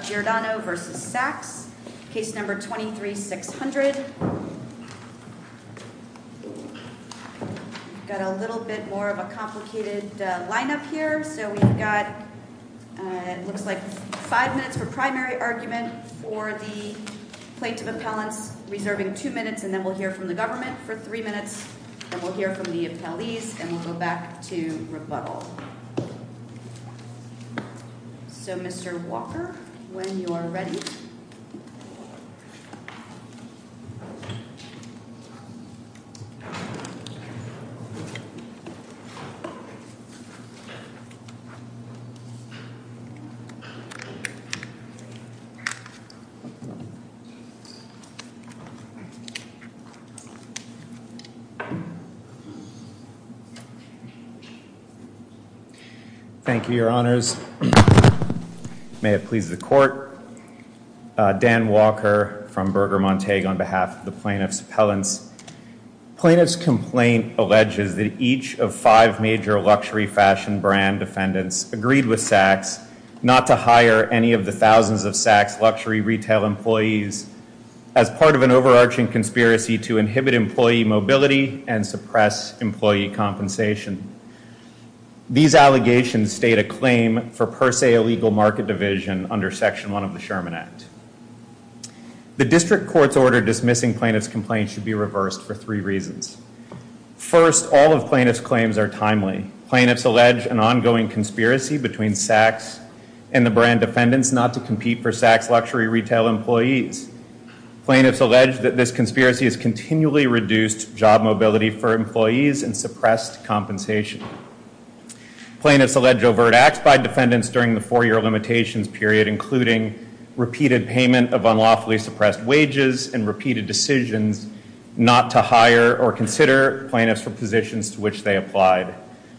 Jordano v. Saks, case number 23-600. Got a little bit more of a complicated lineup here. So we've got, it looks like, five minutes for primary argument for the plaintiff appellants, reserving two minutes, and then we'll hear from the government for three minutes, and we'll hear from the appellees, and we'll go back to rebuttal. So, Mr. Walker, when you are ready. Thank you, your honors. May it please the court. Dan Walker from Berger Montague on behalf of the plaintiff's appellants. Plaintiff's complaint alleges that each of five major luxury fashion brand defendants agreed with Saks not to hire any of the thousands of Saks luxury retail employees as part of an overarching conspiracy to inhibit employee mobility and suppress employee compensation. These allegations state a claim for per se illegal market division under Section 1 of the Sherman Act. The district court's order dismissing plaintiff's complaint should be reversed for three reasons. First, all of plaintiff's claims are timely. Plaintiffs allege an ongoing conspiracy between Saks and the brand defendants not to compete for Saks luxury retail employees. Plaintiffs allege that this conspiracy has continually reduced job mobility for employees and suppressed compensation. Plaintiffs allege overt acts by defendants during the four-year limitations period, including repeated payment of unlawfully suppressed wages and repeated decisions not to hire or consider plaintiffs for positions to which they applied.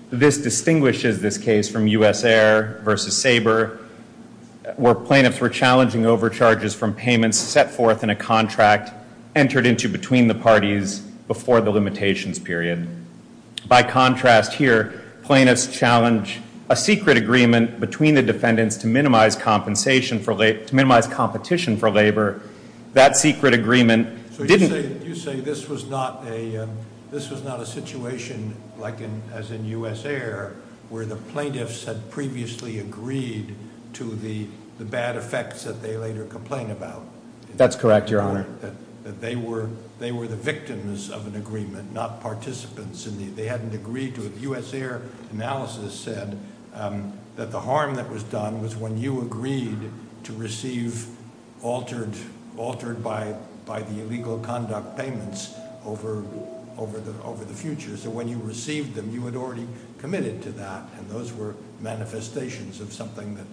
This distinguishes this case from U.S. Air versus Sabre, where plaintiffs were challenging overcharges from payments set forth in a contract entered into between the parties before the limitations period. By contrast here, plaintiffs challenge a secret agreement between the defendants to minimize compensation for late to minimize competition for labor. That secret agreement didn't... So you say this was not a situation like in, as in U.S. Air, where the plaintiffs had previously agreed to the bad effects that they later complained about. That's correct, your honor. That they were the victims of an agreement, not participants, and they hadn't agreed to it. U.S. Air analysis said that the harm that was done was when you agreed to receive altered by the illegal conduct payments over the future. So when you received them, you had already committed to that, and those were manifestations of something that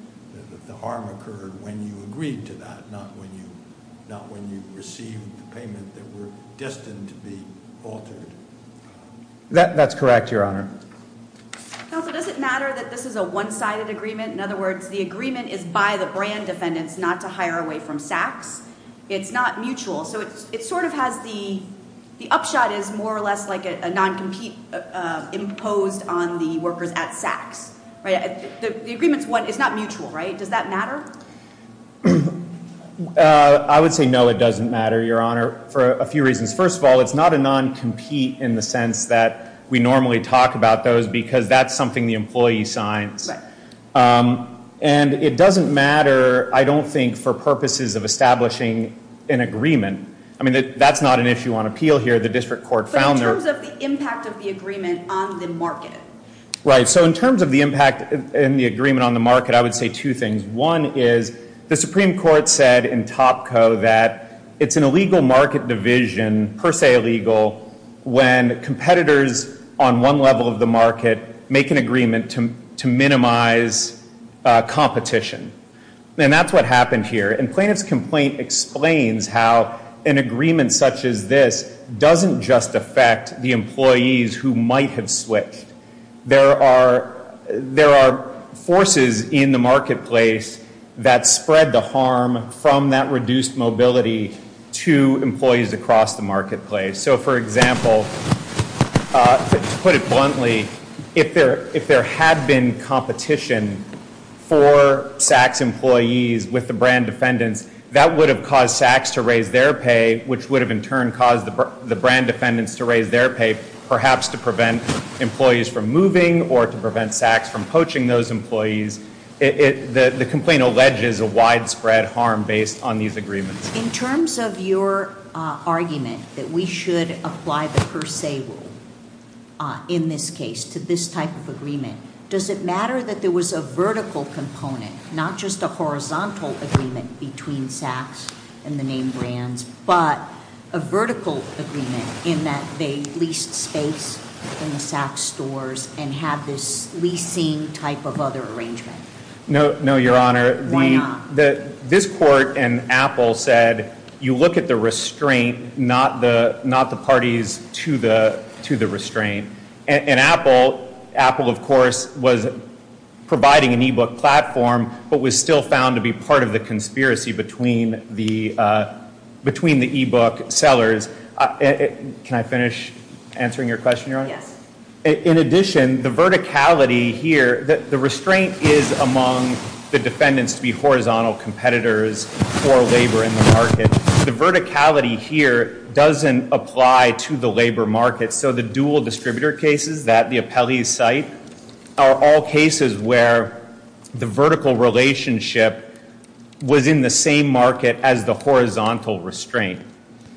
the harm occurred when you agreed to that, not when you received the payment that were destined to be altered. That's correct, your honor. Counsel, does it matter that this is a one-sided agreement? In other words, the agreement is by the brand defendants not to hire away from SACs. It's not mutual. So it sort of has the... The upshot is more or less like a non-compete imposed on the workers at SACs. The agreement is not mutual, right? Does that matter? I would say no, it doesn't matter, your honor, for a few reasons. First of all, it's not a non-compete in the sense that we normally talk about those because that's the employee signs. And it doesn't matter, I don't think, for purposes of establishing an agreement. I mean, that's not an issue on appeal here. The district court found... But in terms of the impact of the agreement on the market? Right. So in terms of the impact and the agreement on the market, I would say two things. One is the Supreme Court said in Topco that it's an illegal market division, per se illegal, when competitors on one level of the market make an agreement to minimize competition. And that's what happened here. And plaintiff's complaint explains how an agreement such as this doesn't just affect the employees who might have switched. There are... There are forces in the marketplace that spread the harm from that reduced mobility to employees across the marketplace. So for example, to put it bluntly, if there had been competition for SACs employees with the brand defendants, that would have caused SACs to raise their pay, which would have in turn caused the brand defendants to raise their pay, perhaps to prevent employees from moving or to prevent SACs from poaching those employees. The complaint alleges a widespread harm based on these agreements. In terms of your argument that we should apply the per se rule in this case to this type of agreement, does it matter that there was a vertical component, not just a horizontal agreement between SACs and the name brands, but a vertical agreement in that they leased space in the SAC stores and have this leasing type of other arrangement? No, Your Honor. Why not? This court and Apple said you look at the restraint, not the parties to the restraint. And Apple, of course, was providing an e-book platform but was still found to be part of the conspiracy between the e-book sellers. Can I finish answering your question, Your Honor? Yes. In addition, the verticality here, the restraint is among the defendants to be horizontal competitors for labor in the market. The verticality here doesn't apply to the labor market. So the dual distributor cases that the appellees cite are all cases where the vertical relationship was in the same market as the horizontal restraint.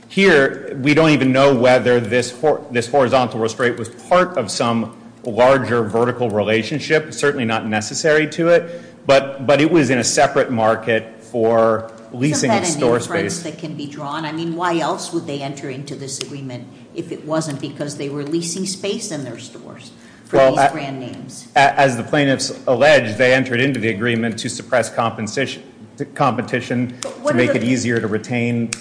Here, we don't even know whether this horizontal restraint was part of some larger vertical relationship. Certainly not necessary to it, but it was in a separate market for leasing store space. Isn't that an inference that can be drawn? I mean, why else would they enter into this agreement if it wasn't because they were leasing space in their stores for these brand names? As the plaintiffs allege, they entered into the agreement to suppress competition to make it easier to retain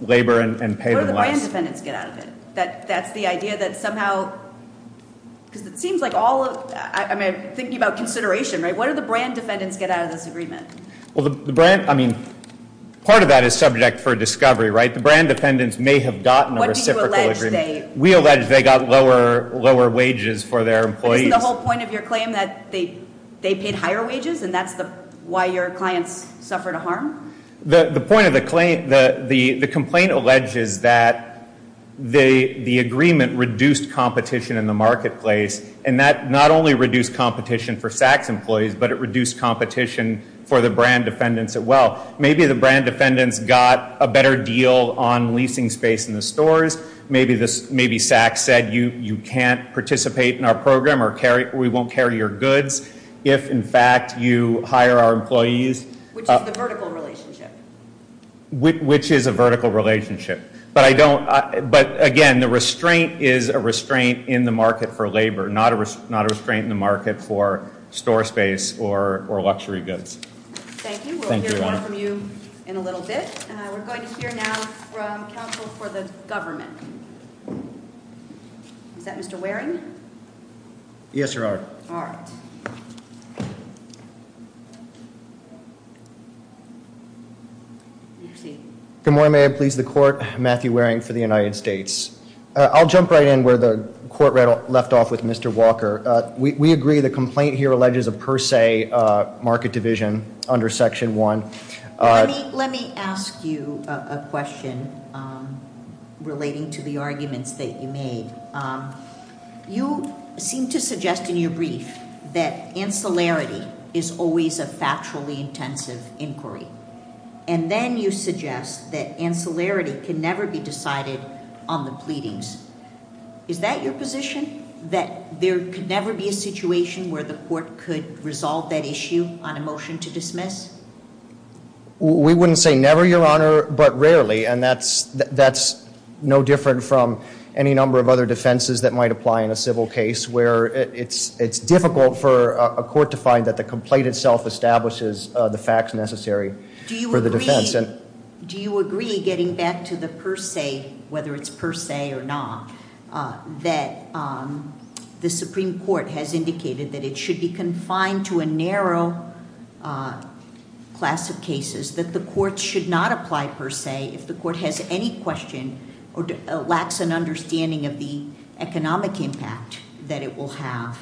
labor and pay them less. What do the brand defendants get out of it? That's the idea that somehow, because it seems like all of, I mean, thinking about consideration, right? What do the brand defendants get out of this agreement? Well, the brand, I mean, part of that is subject for discovery, right? The brand defendants may have gotten a reciprocal agreement. What do you allege they... We allege they got lower wages for their wages, and that's why your clients suffered a harm? The point of the complaint, the complaint alleges that the agreement reduced competition in the marketplace, and that not only reduced competition for SAC's employees, but it reduced competition for the brand defendants as well. Maybe the brand defendants got a better deal on leasing space in the stores. Maybe this, maybe SAC said you can't participate in our program or we won't carry your goods if, in fact, you hire our employees. Which is the vertical relationship? Which is a vertical relationship, but I don't, but again, the restraint is a restraint in the market for labor, not a restraint in the market for store space or luxury goods. Thank you. We'll hear more from you in a little bit. We're going to hear now from counsel for the government. Is that Mr. Waring? Yes, your honor. All right. Good morning, may I please the court. Matthew Waring for the United States. I'll jump right in where the court left off with Mr. Walker. We agree the complaint here alleges a per se market division under section one. Let me ask you a question relating to the arguments that you made. You seem to suggest in your brief that ancillarity is always a factually intensive inquiry, and then you suggest that ancillarity can never be decided on the pleadings. Is that your position? That there could never be a situation where the court could resolve that issue on a motion to dismiss? We wouldn't say never, your honor, but rarely, and that's no different from any number of other defenses that might apply in a civil case where it's difficult for a court to find that the complaint itself establishes the facts necessary for the defense. Do you agree getting back to the per se, whether it's per se or not, that the Supreme Court has indicated that it should be confined to a narrow class of cases that the court should not apply per se if the court has any question or lacks an understanding of the economic impact that it will have?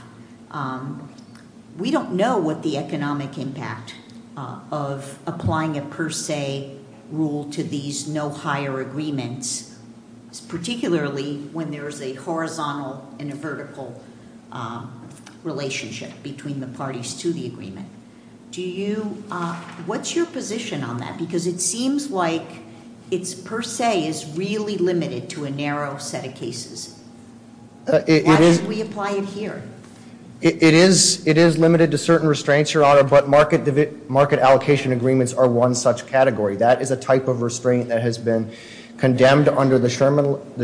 We don't know what the economic impact of applying a per se rule to these no higher agreements, particularly when there is a horizontal and a vertical relationship between the parties to the agreement. What's your position on that? Because it seems like per se is really limited to a narrow set of cases. Why did we apply it here? It is limited to certain restraints, your honor, but market allocation agreements are one such category. That is a type of restraint that has been condemned under the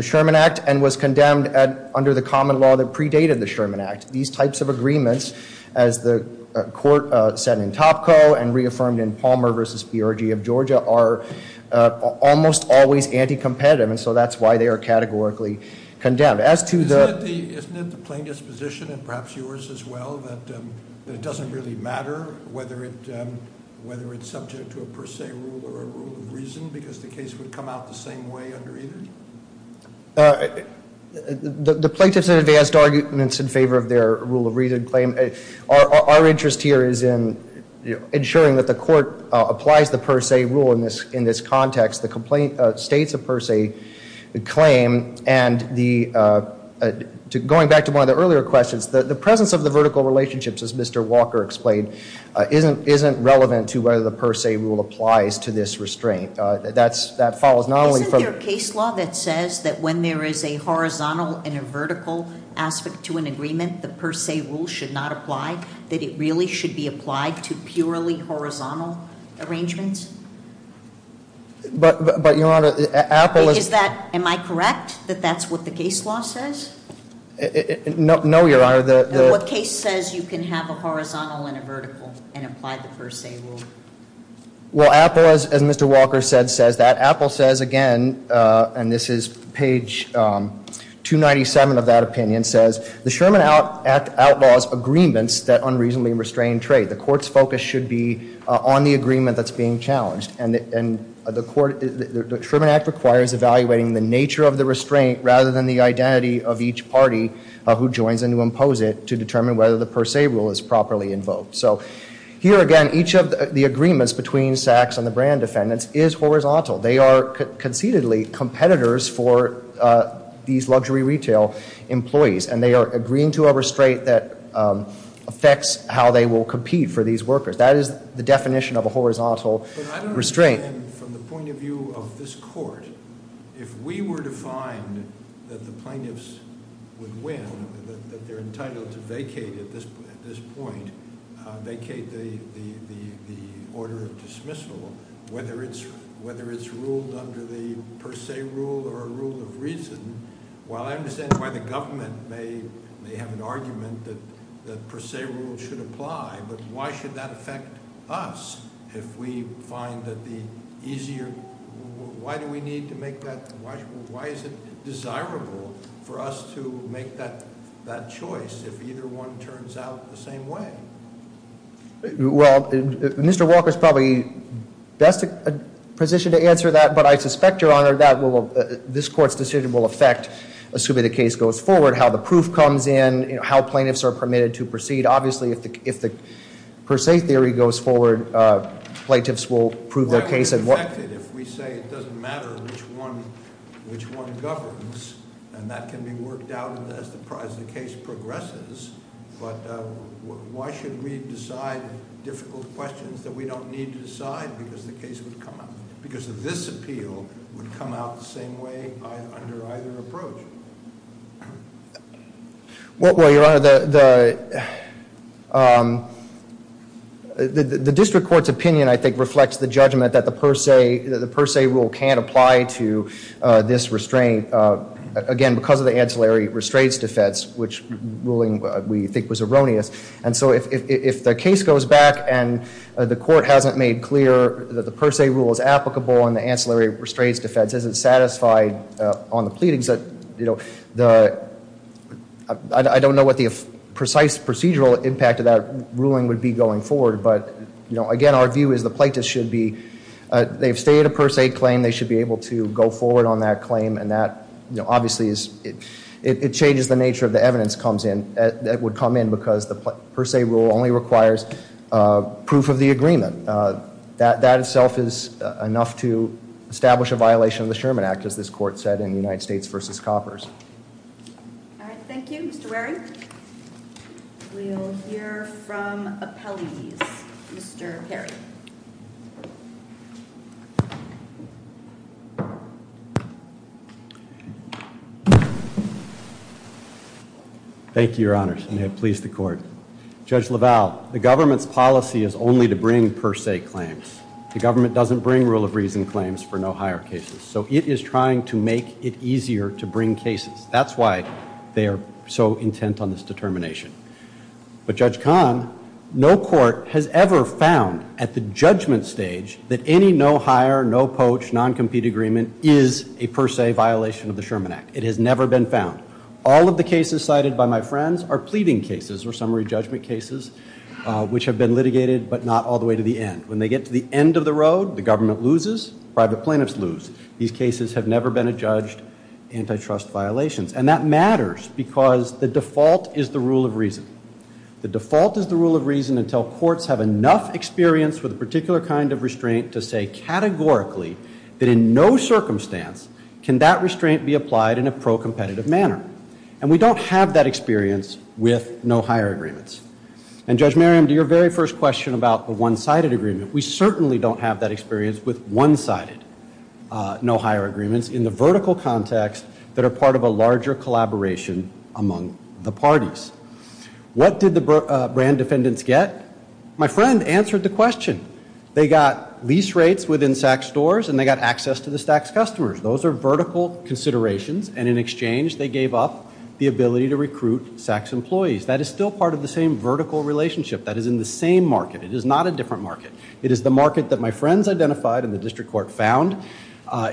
Sherman Act and was condemned under the common law that predated the Sherman Act. These types of agreements as the court said in Topko and reaffirmed in Palmer versus PRG of Georgia are almost always anti-competitive and so that's why they are categorically condemned. Isn't it the plaintiff's position and perhaps yours as well that it doesn't really matter whether it's subject to a per se rule or a rule of reason because the case would come out the same way under either? The plaintiff's advanced arguments in favor of their rule of reason. Our interest here is in ensuring that the court applies the per se rule in this context. The complaint states a per se claim and going back to one of the earlier questions, the presence of the vertical relationships as Mr. Walker explained isn't relevant to whether the per se rule applies to this restraint. Isn't there a case law that says that when there is a horizontal and a vertical aspect to an agreement, the per se rule should not apply? That it really should be applied to purely horizontal arrangements? But Your Honor, Apple... Is that, am I correct that that's what the case law says? No Your Honor. What case says you can have a horizontal and a vertical and apply the per se rule? Well Apple as Mr. Walker said says that. Apple says again and this is page 297 of that opinion says the Sherman Act outlaws agreements that unreasonably restrain trade. The court's focus should be on the agreement that's being challenged and the court, the Sherman Act requires evaluating the nature of the restraint rather than the identity of each party who joins and to impose it to determine whether the per se rule is properly invoked. So here again each of the agreements between Sachs and the Brand defendants is horizontal. They are concededly competitors for these luxury retail employees and they are agreeing to a restraint that affects how they will compete for these workers. That is the definition of a horizontal restraint. From the point of view of this court, if we were to find that the plaintiffs would win, that they're entitled to vacate at this point, vacate the order of dismissal, whether it's ruled under the per se rule or a rule of reason, while I understand why the government may have an argument that the per se rule should apply, but why should that affect us if we find that the easier, why do we need to make that, why is it desirable for us to make that choice if either one turns out the same way? Well, Mr. Walker's probably best positioned to answer that, but I suspect, your honor, that will, this court's decision will affect, assuming the case goes forward, how the proof comes in, you know, how plaintiffs are permitted to proceed. Obviously, if the per se theory goes forward, plaintiffs will prove their case and- Why would it affect it if we say it doesn't matter which one governs and that can be worked out as the price of the case progresses, but why should we decide difficult questions that we don't need to decide because the case would come out, because this appeal would come out the same way under either approach? Well, your honor, the district court's opinion, I think, reflects the judgment that the per se rule can't apply to this restraint, again, because of the ruling we think was erroneous, and so if the case goes back and the court hasn't made clear that the per se rule is applicable and the ancillary restraints defense isn't satisfied on the pleadings that, you know, the, I don't know what the precise procedural impact of that ruling would be going forward, but, you know, again, our view is the plaintiffs should be, they've stated a per se claim, they should be able to go forward on that claim and that, you know, it changes the nature of the evidence comes in, that would come in because the per se rule only requires proof of the agreement. That itself is enough to establish a violation of the Sherman Act, as this court said in the United States versus Coppers. All right, thank you, Mr. Waring. We'll hear from appellees. Mr. Perry. Thank you, your honors, and may it please the court. Judge LaValle, the government's policy is only to bring per se claims. The government doesn't bring rule of reason claims for no hire cases, so it is trying to make it easier to bring cases. That's why they are so intent on this determination, but Judge Kahn, no court has ever found at the judgment stage that any no hire, no poach, non-compete agreement is a per se violation of the Sherman Act. It has never been found. All of the cases cited by my friends are pleading cases or summary judgment cases, which have been litigated but not all the way to the end. When they get to the end of the road, the government loses, private plaintiffs lose. These cases have never been adjudged antitrust violations, and that matters because the default is the rule of reason. The default is the rule of reason until courts have enough experience with a particular kind of restraint to say categorically that in no circumstance can that restraint be applied in a pro-competitive manner. And we don't have that experience with no hire agreements. And Judge Merriam, to your very first question about the one-sided agreement, we certainly don't have that experience with one-sided no hire agreements in the vertical context that are part of a larger collaboration among the parties. What did the brand defendants get? My friend answered the question. They got lease rates within SAC's stores and they got access to the SAC's customers. Those are vertical considerations. And in exchange, they gave up the ability to recruit SAC's employees. That is still part of the same vertical relationship that is in the same market. It is not a different market. It is the market that my friends identified and the district court found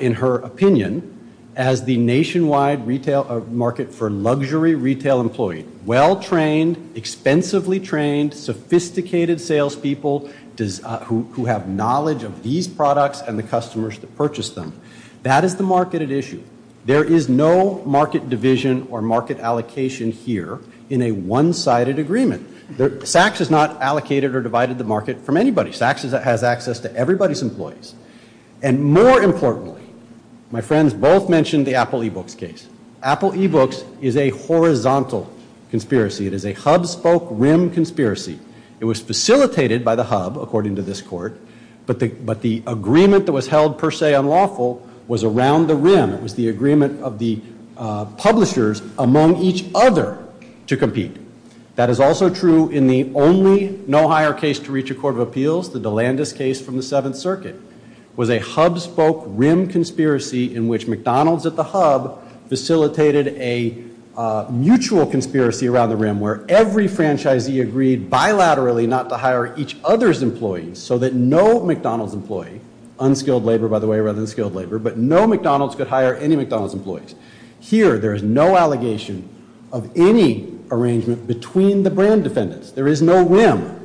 in her opinion as the nationwide retail market for luxury retail employee. Well-trained, expensively trained, sophisticated salespeople who have knowledge of these products and the customers that purchase them. That is the market at issue. There is no market division or market allocation here in a one-sided agreement. SAC's is not allocated or divided the market from anybody. SAC's has access to everybody's employees. And more importantly, my friends both mentioned the Apple eBooks case. Apple eBooks is a horizontal conspiracy. It is a hub-spoke-rim conspiracy. It was facilitated by was around the rim. It was the agreement of the publishers among each other to compete. That is also true in the only no-hire case to reach a court of appeals, the DeLandis case from the Seventh Circuit, was a hub-spoke-rim conspiracy in which McDonald's at the hub facilitated a mutual conspiracy around the rim where every franchisee agreed bilaterally not to hire each brand-skilled laborer but no McDonald's could hire any McDonald's employees. Here there is no allegation of any arrangement between the brand defendants. There is no rim.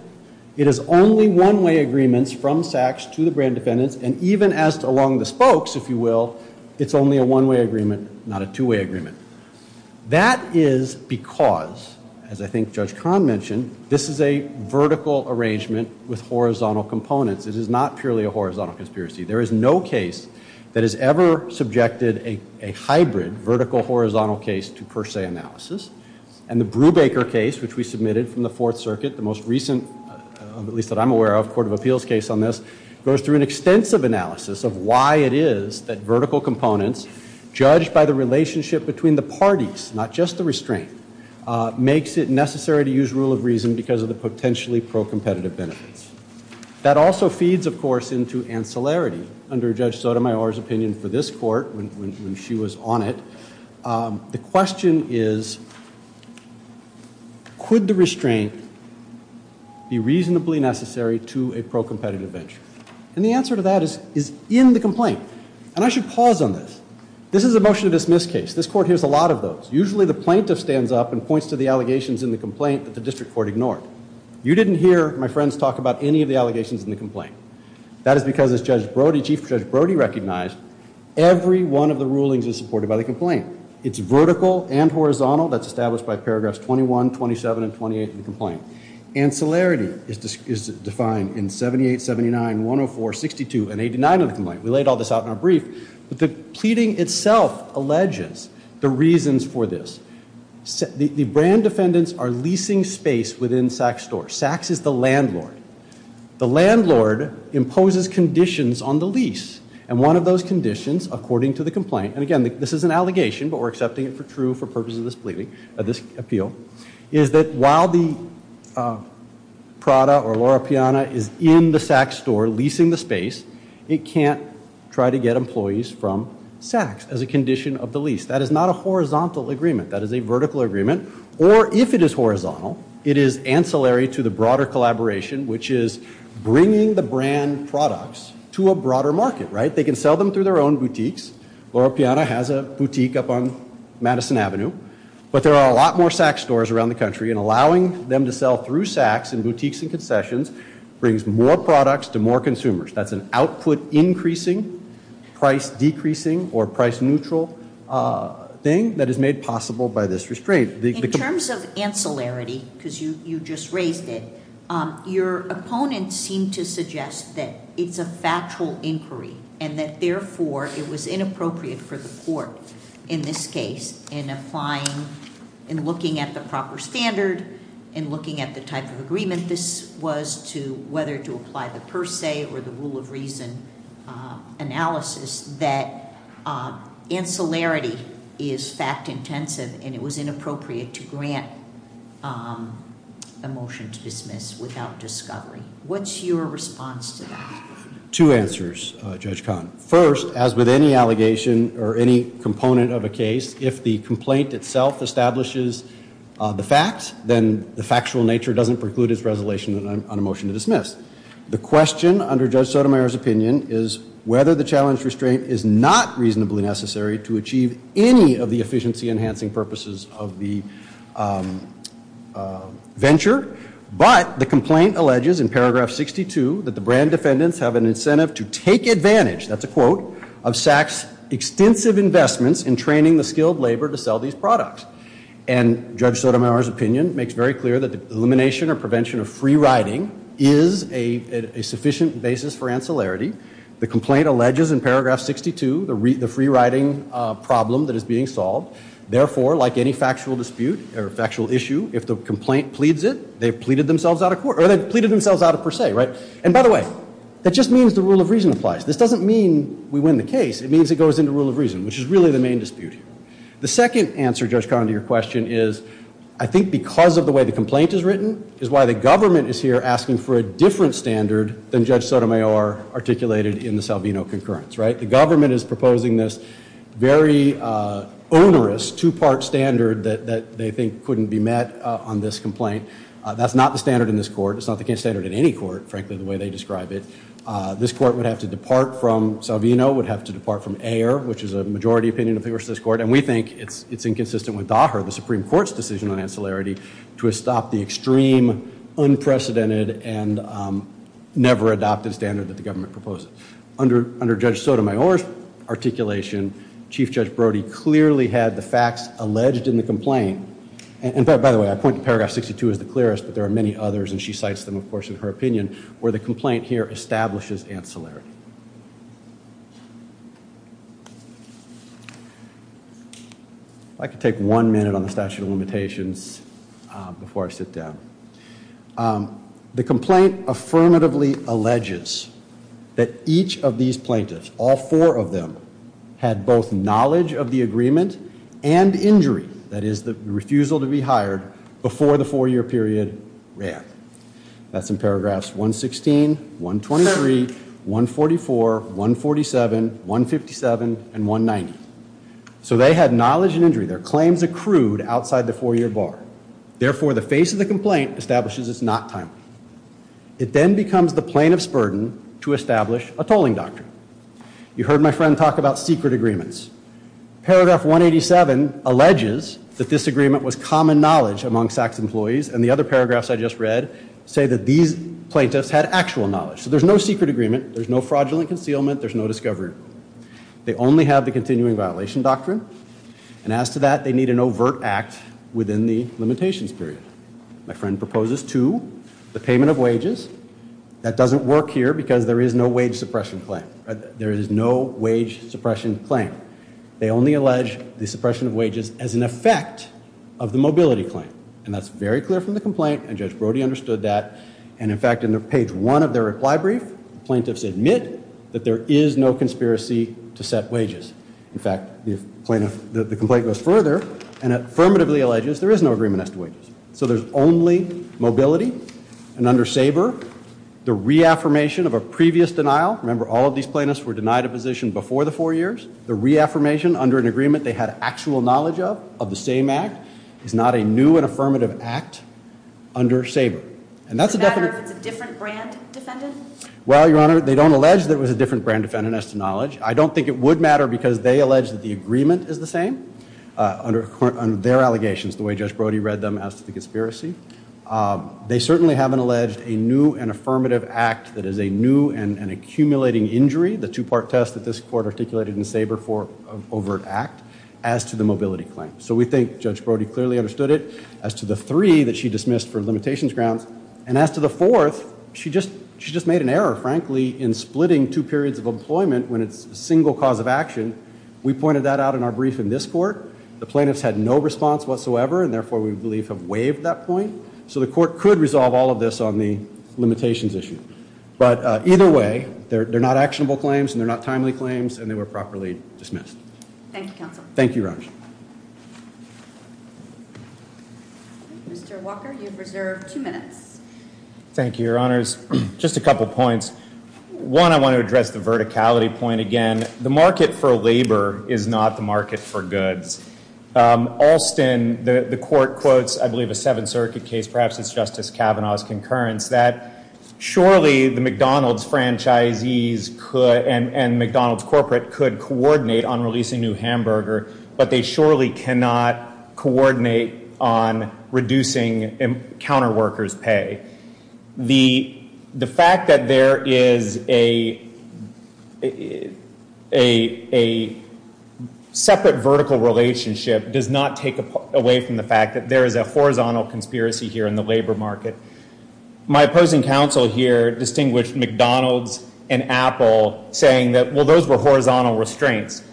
It is only one-way agreements from SAC's to the brand defendants and even as to along the spokes, if you will, it's only a one-way agreement, not a two-way agreement. That is because, as I think Judge Kahn mentioned, this is a vertical arrangement with horizontal components. It is not purely a horizontal conspiracy. There is no case that has ever subjected a hybrid vertical-horizontal case to per se analysis and the Brubaker case, which we submitted from the Fourth Circuit, the most recent, at least that I'm aware of, court of appeals case on this, goes through an extensive analysis of why it is that vertical components, judged by the relationship between the parties, not just the restraint, makes it necessary to use rule of reason because of the potentially pro-competitive benefits. That also feeds, of course, into ancillarity under Judge Sotomayor's opinion for this court when she was on it. The question is could the restraint be reasonably necessary to a pro-competitive venture and the answer to that is in the complaint and I should pause on this. This is a motion to dismiss case. This court hears a lot of those. Usually the plaintiff stands up and points to the allegations in the complaint that the district court ignored. You didn't hear, my friends, talk about any of the allegations in the complaint. That is because as Judge Brody, Chief Judge Brody, recognized every one of the rulings is supported by the complaint. It's vertical and horizontal that's established by paragraphs 21, 27, and 28 of the complaint. Ancillarity is defined in 78, 79, 104, 62, and 89 of the complaint. We laid all this out in our brief but the pleading itself alleges the reasons for this. The brand defendants are leasing space within Saks Store. Saks is the landlord. The landlord imposes conditions on the lease and one of those conditions according to the complaint, and again this is an allegation but we're accepting it for true for purposes of this pleading, of this appeal, is that while the Prada or Laura Piana is in the Saks Store leasing the space, it can't try to get employees from Saks as a condition of the lease. That is not a horizontal agreement. That is a vertical agreement or if it is horizontal, it is ancillary to the broader collaboration, which is bringing the brand products to a broader market, right? They can sell them through their own boutiques. Laura Piana has a boutique up on Madison Avenue, but there are a lot more Saks stores around the country and allowing them to sell through Saks in boutiques and concessions brings more products to more consumers. That's an output increasing, price decreasing, or price neutral thing that is made possible by this restraint. In terms of ancillarity, because you just raised it, your opponent seemed to suggest that it's a factual inquiry and that therefore it was inappropriate for the court in this case in applying, in looking at the proper standard, in looking at the type of agreement this was to whether to apply the per se or the rule of reason analysis that ancillarity is fact intensive and it was inappropriate to grant a motion to dismiss without discovery. What's your response to that? Two answers, Judge Kahn. First, as with any allegation or any component of a case, if the complaint itself establishes the facts, then the factual nature doesn't preclude its resolution on a motion to dismiss. The question under Judge Sotomayor's opinion is whether the challenge restraint is not reasonably necessary to achieve any of the efficiency enhancing purposes of the venture, but the complaint alleges in paragraph 62 that the brand defendants have an incentive to take advantage, that's a quote, of Saks' extensive investments in training the skilled labor to sell these products. And Judge Sotomayor's opinion makes very clear that the elimination or 62, the free riding problem that is being solved, therefore, like any factual dispute or factual issue, if the complaint pleads it, they've pleaded themselves out of court, or they've pleaded themselves out of per se, right? And by the way, that just means the rule of reason applies. This doesn't mean we win the case, it means it goes into rule of reason, which is really the main dispute. The second answer, Judge Kahn, to your question is, I think because of the way the complaint is written, is why the government is here asking for a different standard than Judge Sotomayor, right? The government is proposing this very onerous, two-part standard that they think couldn't be met on this complaint. That's not the standard in this court, it's not the case standard in any court, frankly, the way they describe it. This court would have to depart from Salvino, would have to depart from Ayer, which is a majority opinion of the U.S. court, and we think it's inconsistent with DAHER, the Supreme Court's decision on ancillarity, to have stopped the extreme, unprecedented, and never adopted standard that the government proposed. Under Judge Sotomayor's articulation, Chief Judge Brody clearly had the facts alleged in the complaint, and by the way, I point to paragraph 62 as the clearest, but there are many others, and she cites them, of course, in her opinion, where the complaint here establishes ancillarity. I could take one minute on the statute of limitations before I sit down. The complaint affirmatively alleges that each of these plaintiffs, all four of them, had both knowledge of the agreement and injury, that is the refusal to be hired, before the four-year period ran. That's in paragraphs 116, 123, 144, 147, 157, and 190. So they had knowledge and injury, their claims accrued outside the four-year bar. Therefore, the face of the complaint establishes it's not timely. It then becomes the plaintiff's burden to establish a tolling doctrine. You heard my friend talk about secret agreements. Paragraph 187 alleges that this agreement was common knowledge among SACS employees, and the other paragraphs I just read say that these plaintiffs had actual knowledge. So there's no secret agreement, there's no fraudulent concealment, there's no discovery. They only have the continuing violation doctrine. And as to that, they need an overt act within the limitations period. My friend proposes two, the payment of wages. That doesn't work here because there is no wage suppression claim. There is no wage suppression claim. They only allege the suppression of wages as an effect of the mobility claim. And that's very clear from the complaint, and Judge Brody understood that. And in fact, in page one of their reply brief, plaintiffs admit that there is no conspiracy to set wages. In fact, the complaint goes further and affirmatively alleges there is no agreement as to wages. So there's only mobility. And under SABER, the reaffirmation of a previous denial, remember all of these plaintiffs were denied a position before the four years, the reaffirmation under an agreement they had actual knowledge of, of the same act, is not a new and affirmative act under SABER. And that's a definite... Is it a matter of it's a different brand defendant? Well, Your Honor, they don't allege that it was a different brand defendant as to knowledge. I don't think it would matter because they allege that the agreement is the same under their allegations, the way Judge Brody read them as to the conspiracy. They certainly haven't alleged a new and affirmative act that is a new and accumulating injury, the two-part test that this court articulated in SABER for an overt act, as to the mobility claim. So we think Judge Brody clearly understood it as to the three that she dismissed for limitations grounds. And as to the fourth, she just made an error, frankly, in splitting two periods of employment when it's a single cause of action. We pointed that out in our brief in this court. The plaintiffs had no response whatsoever, and therefore we believe have waived that point. So the court could resolve all of this on the limitations issue. But either way, they're not actionable claims and they're not timely claims and they were properly dismissed. Thank you, counsel. Thank you, Roger. Mr. Walker, you've reserved two minutes. Thank you, Your Honors. Just a couple of points. One, I want to address the verticality point again. The market for labor is not the market for goods. Alston, the court quotes, I believe, a Seventh Circuit case, perhaps it's Justice Kavanaugh's concurrence, that surely the McDonald's franchisees and McDonald's corporate could coordinate on releasing new hamburger, but they surely cannot coordinate on reducing counter workers' pay. The fact that there is a separate vertical relationship does not take away from the fact that there is a horizontal conspiracy here in the labor market. My opposing counsel here distinguished McDonald's and Apple saying that, well, those were horizontal restraints.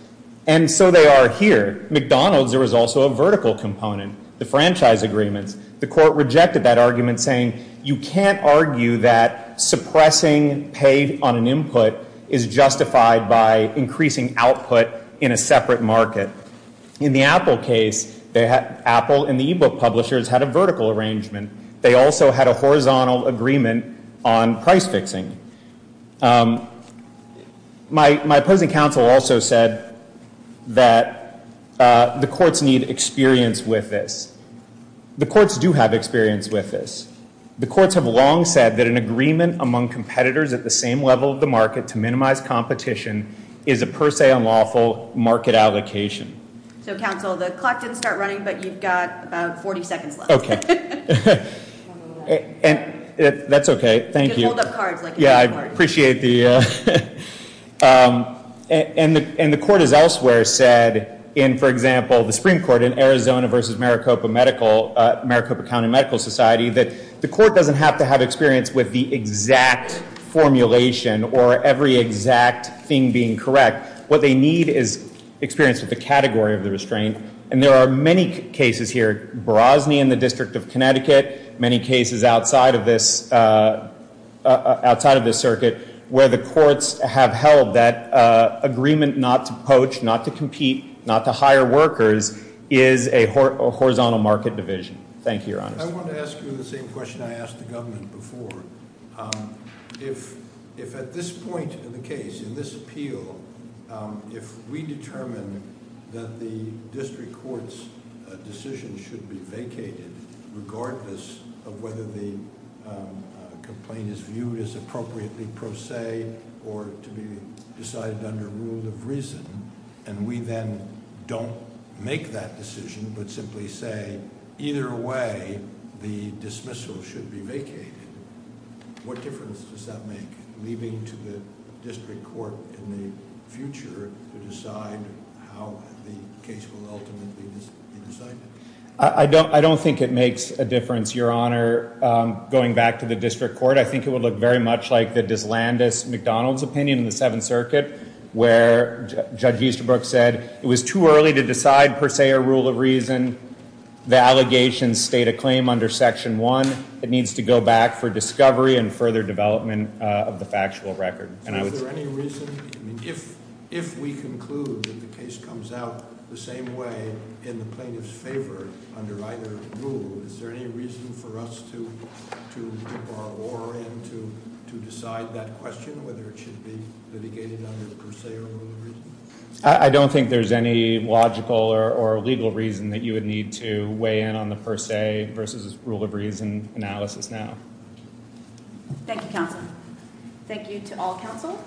And so they are here. McDonald's, there was also a vertical component, the franchise agreements. The court rejected that argument saying you can't argue that suppressing pay on an input is justified by increasing output in a separate market. In the Apple case, Apple and the e-book publishers had a vertical arrangement. They also had a horizontal agreement on price fixing. My opposing counsel also said that the courts need experience with this. The courts do have experience with this. The courts have long said that an agreement among competitors at the same level of the market to minimize competition is a per se unlawful market allocation. So, counsel, the clock didn't start running, but you've got about 40 seconds left. Okay. That's okay. Thank you. You can hold up cards. Yeah, I appreciate the... And the court has elsewhere said in, for example, the Supreme Court in Arizona versus Maricopa County Medical Society that the court doesn't have to have experience with the exact formulation or every exact thing being correct. What they need is experience with the category of the restraint. And there are many cases here, Brosny in the District of Connecticut, many cases outside of this circuit, where the courts have held that agreement not to poach, not to compete, not to hire workers is a horizontal market division. Thank you, Your Honor. I want to ask you the same question I asked the government before. If at this point in the case, in this appeal, if we determine that the district court's decision should be vacated, regardless of whether the complaint is viewed as appropriately per se or to be decided under rule of reason, and we then don't make that decision, but simply say, either way, the dismissal should be vacated, what difference does that make, leaving to the district court in the future to decide how the case will ultimately be decided? I don't think it makes a difference, Your Honor, going back to the district court. I think it would look very much like the Dyslandus-McDonald's opinion in the Seventh Circuit, where Judge Easterbrook said it was too early to decide per se or rule of reason. The allegations state a claim under Section 1. It needs to go back for discovery and further development of the factual record. Is there any reason, if we conclude that the case comes out the same way, in the plaintiff's favor, under either rule, is there any reason for us to keep our oar and to decide that question, whether it should be litigated under the per se or rule of reason? I don't think there's any logical or legal reason that you would need to weigh in on the per se versus rule of reason analysis now. Thank you, counsel. Thank you to all counsel.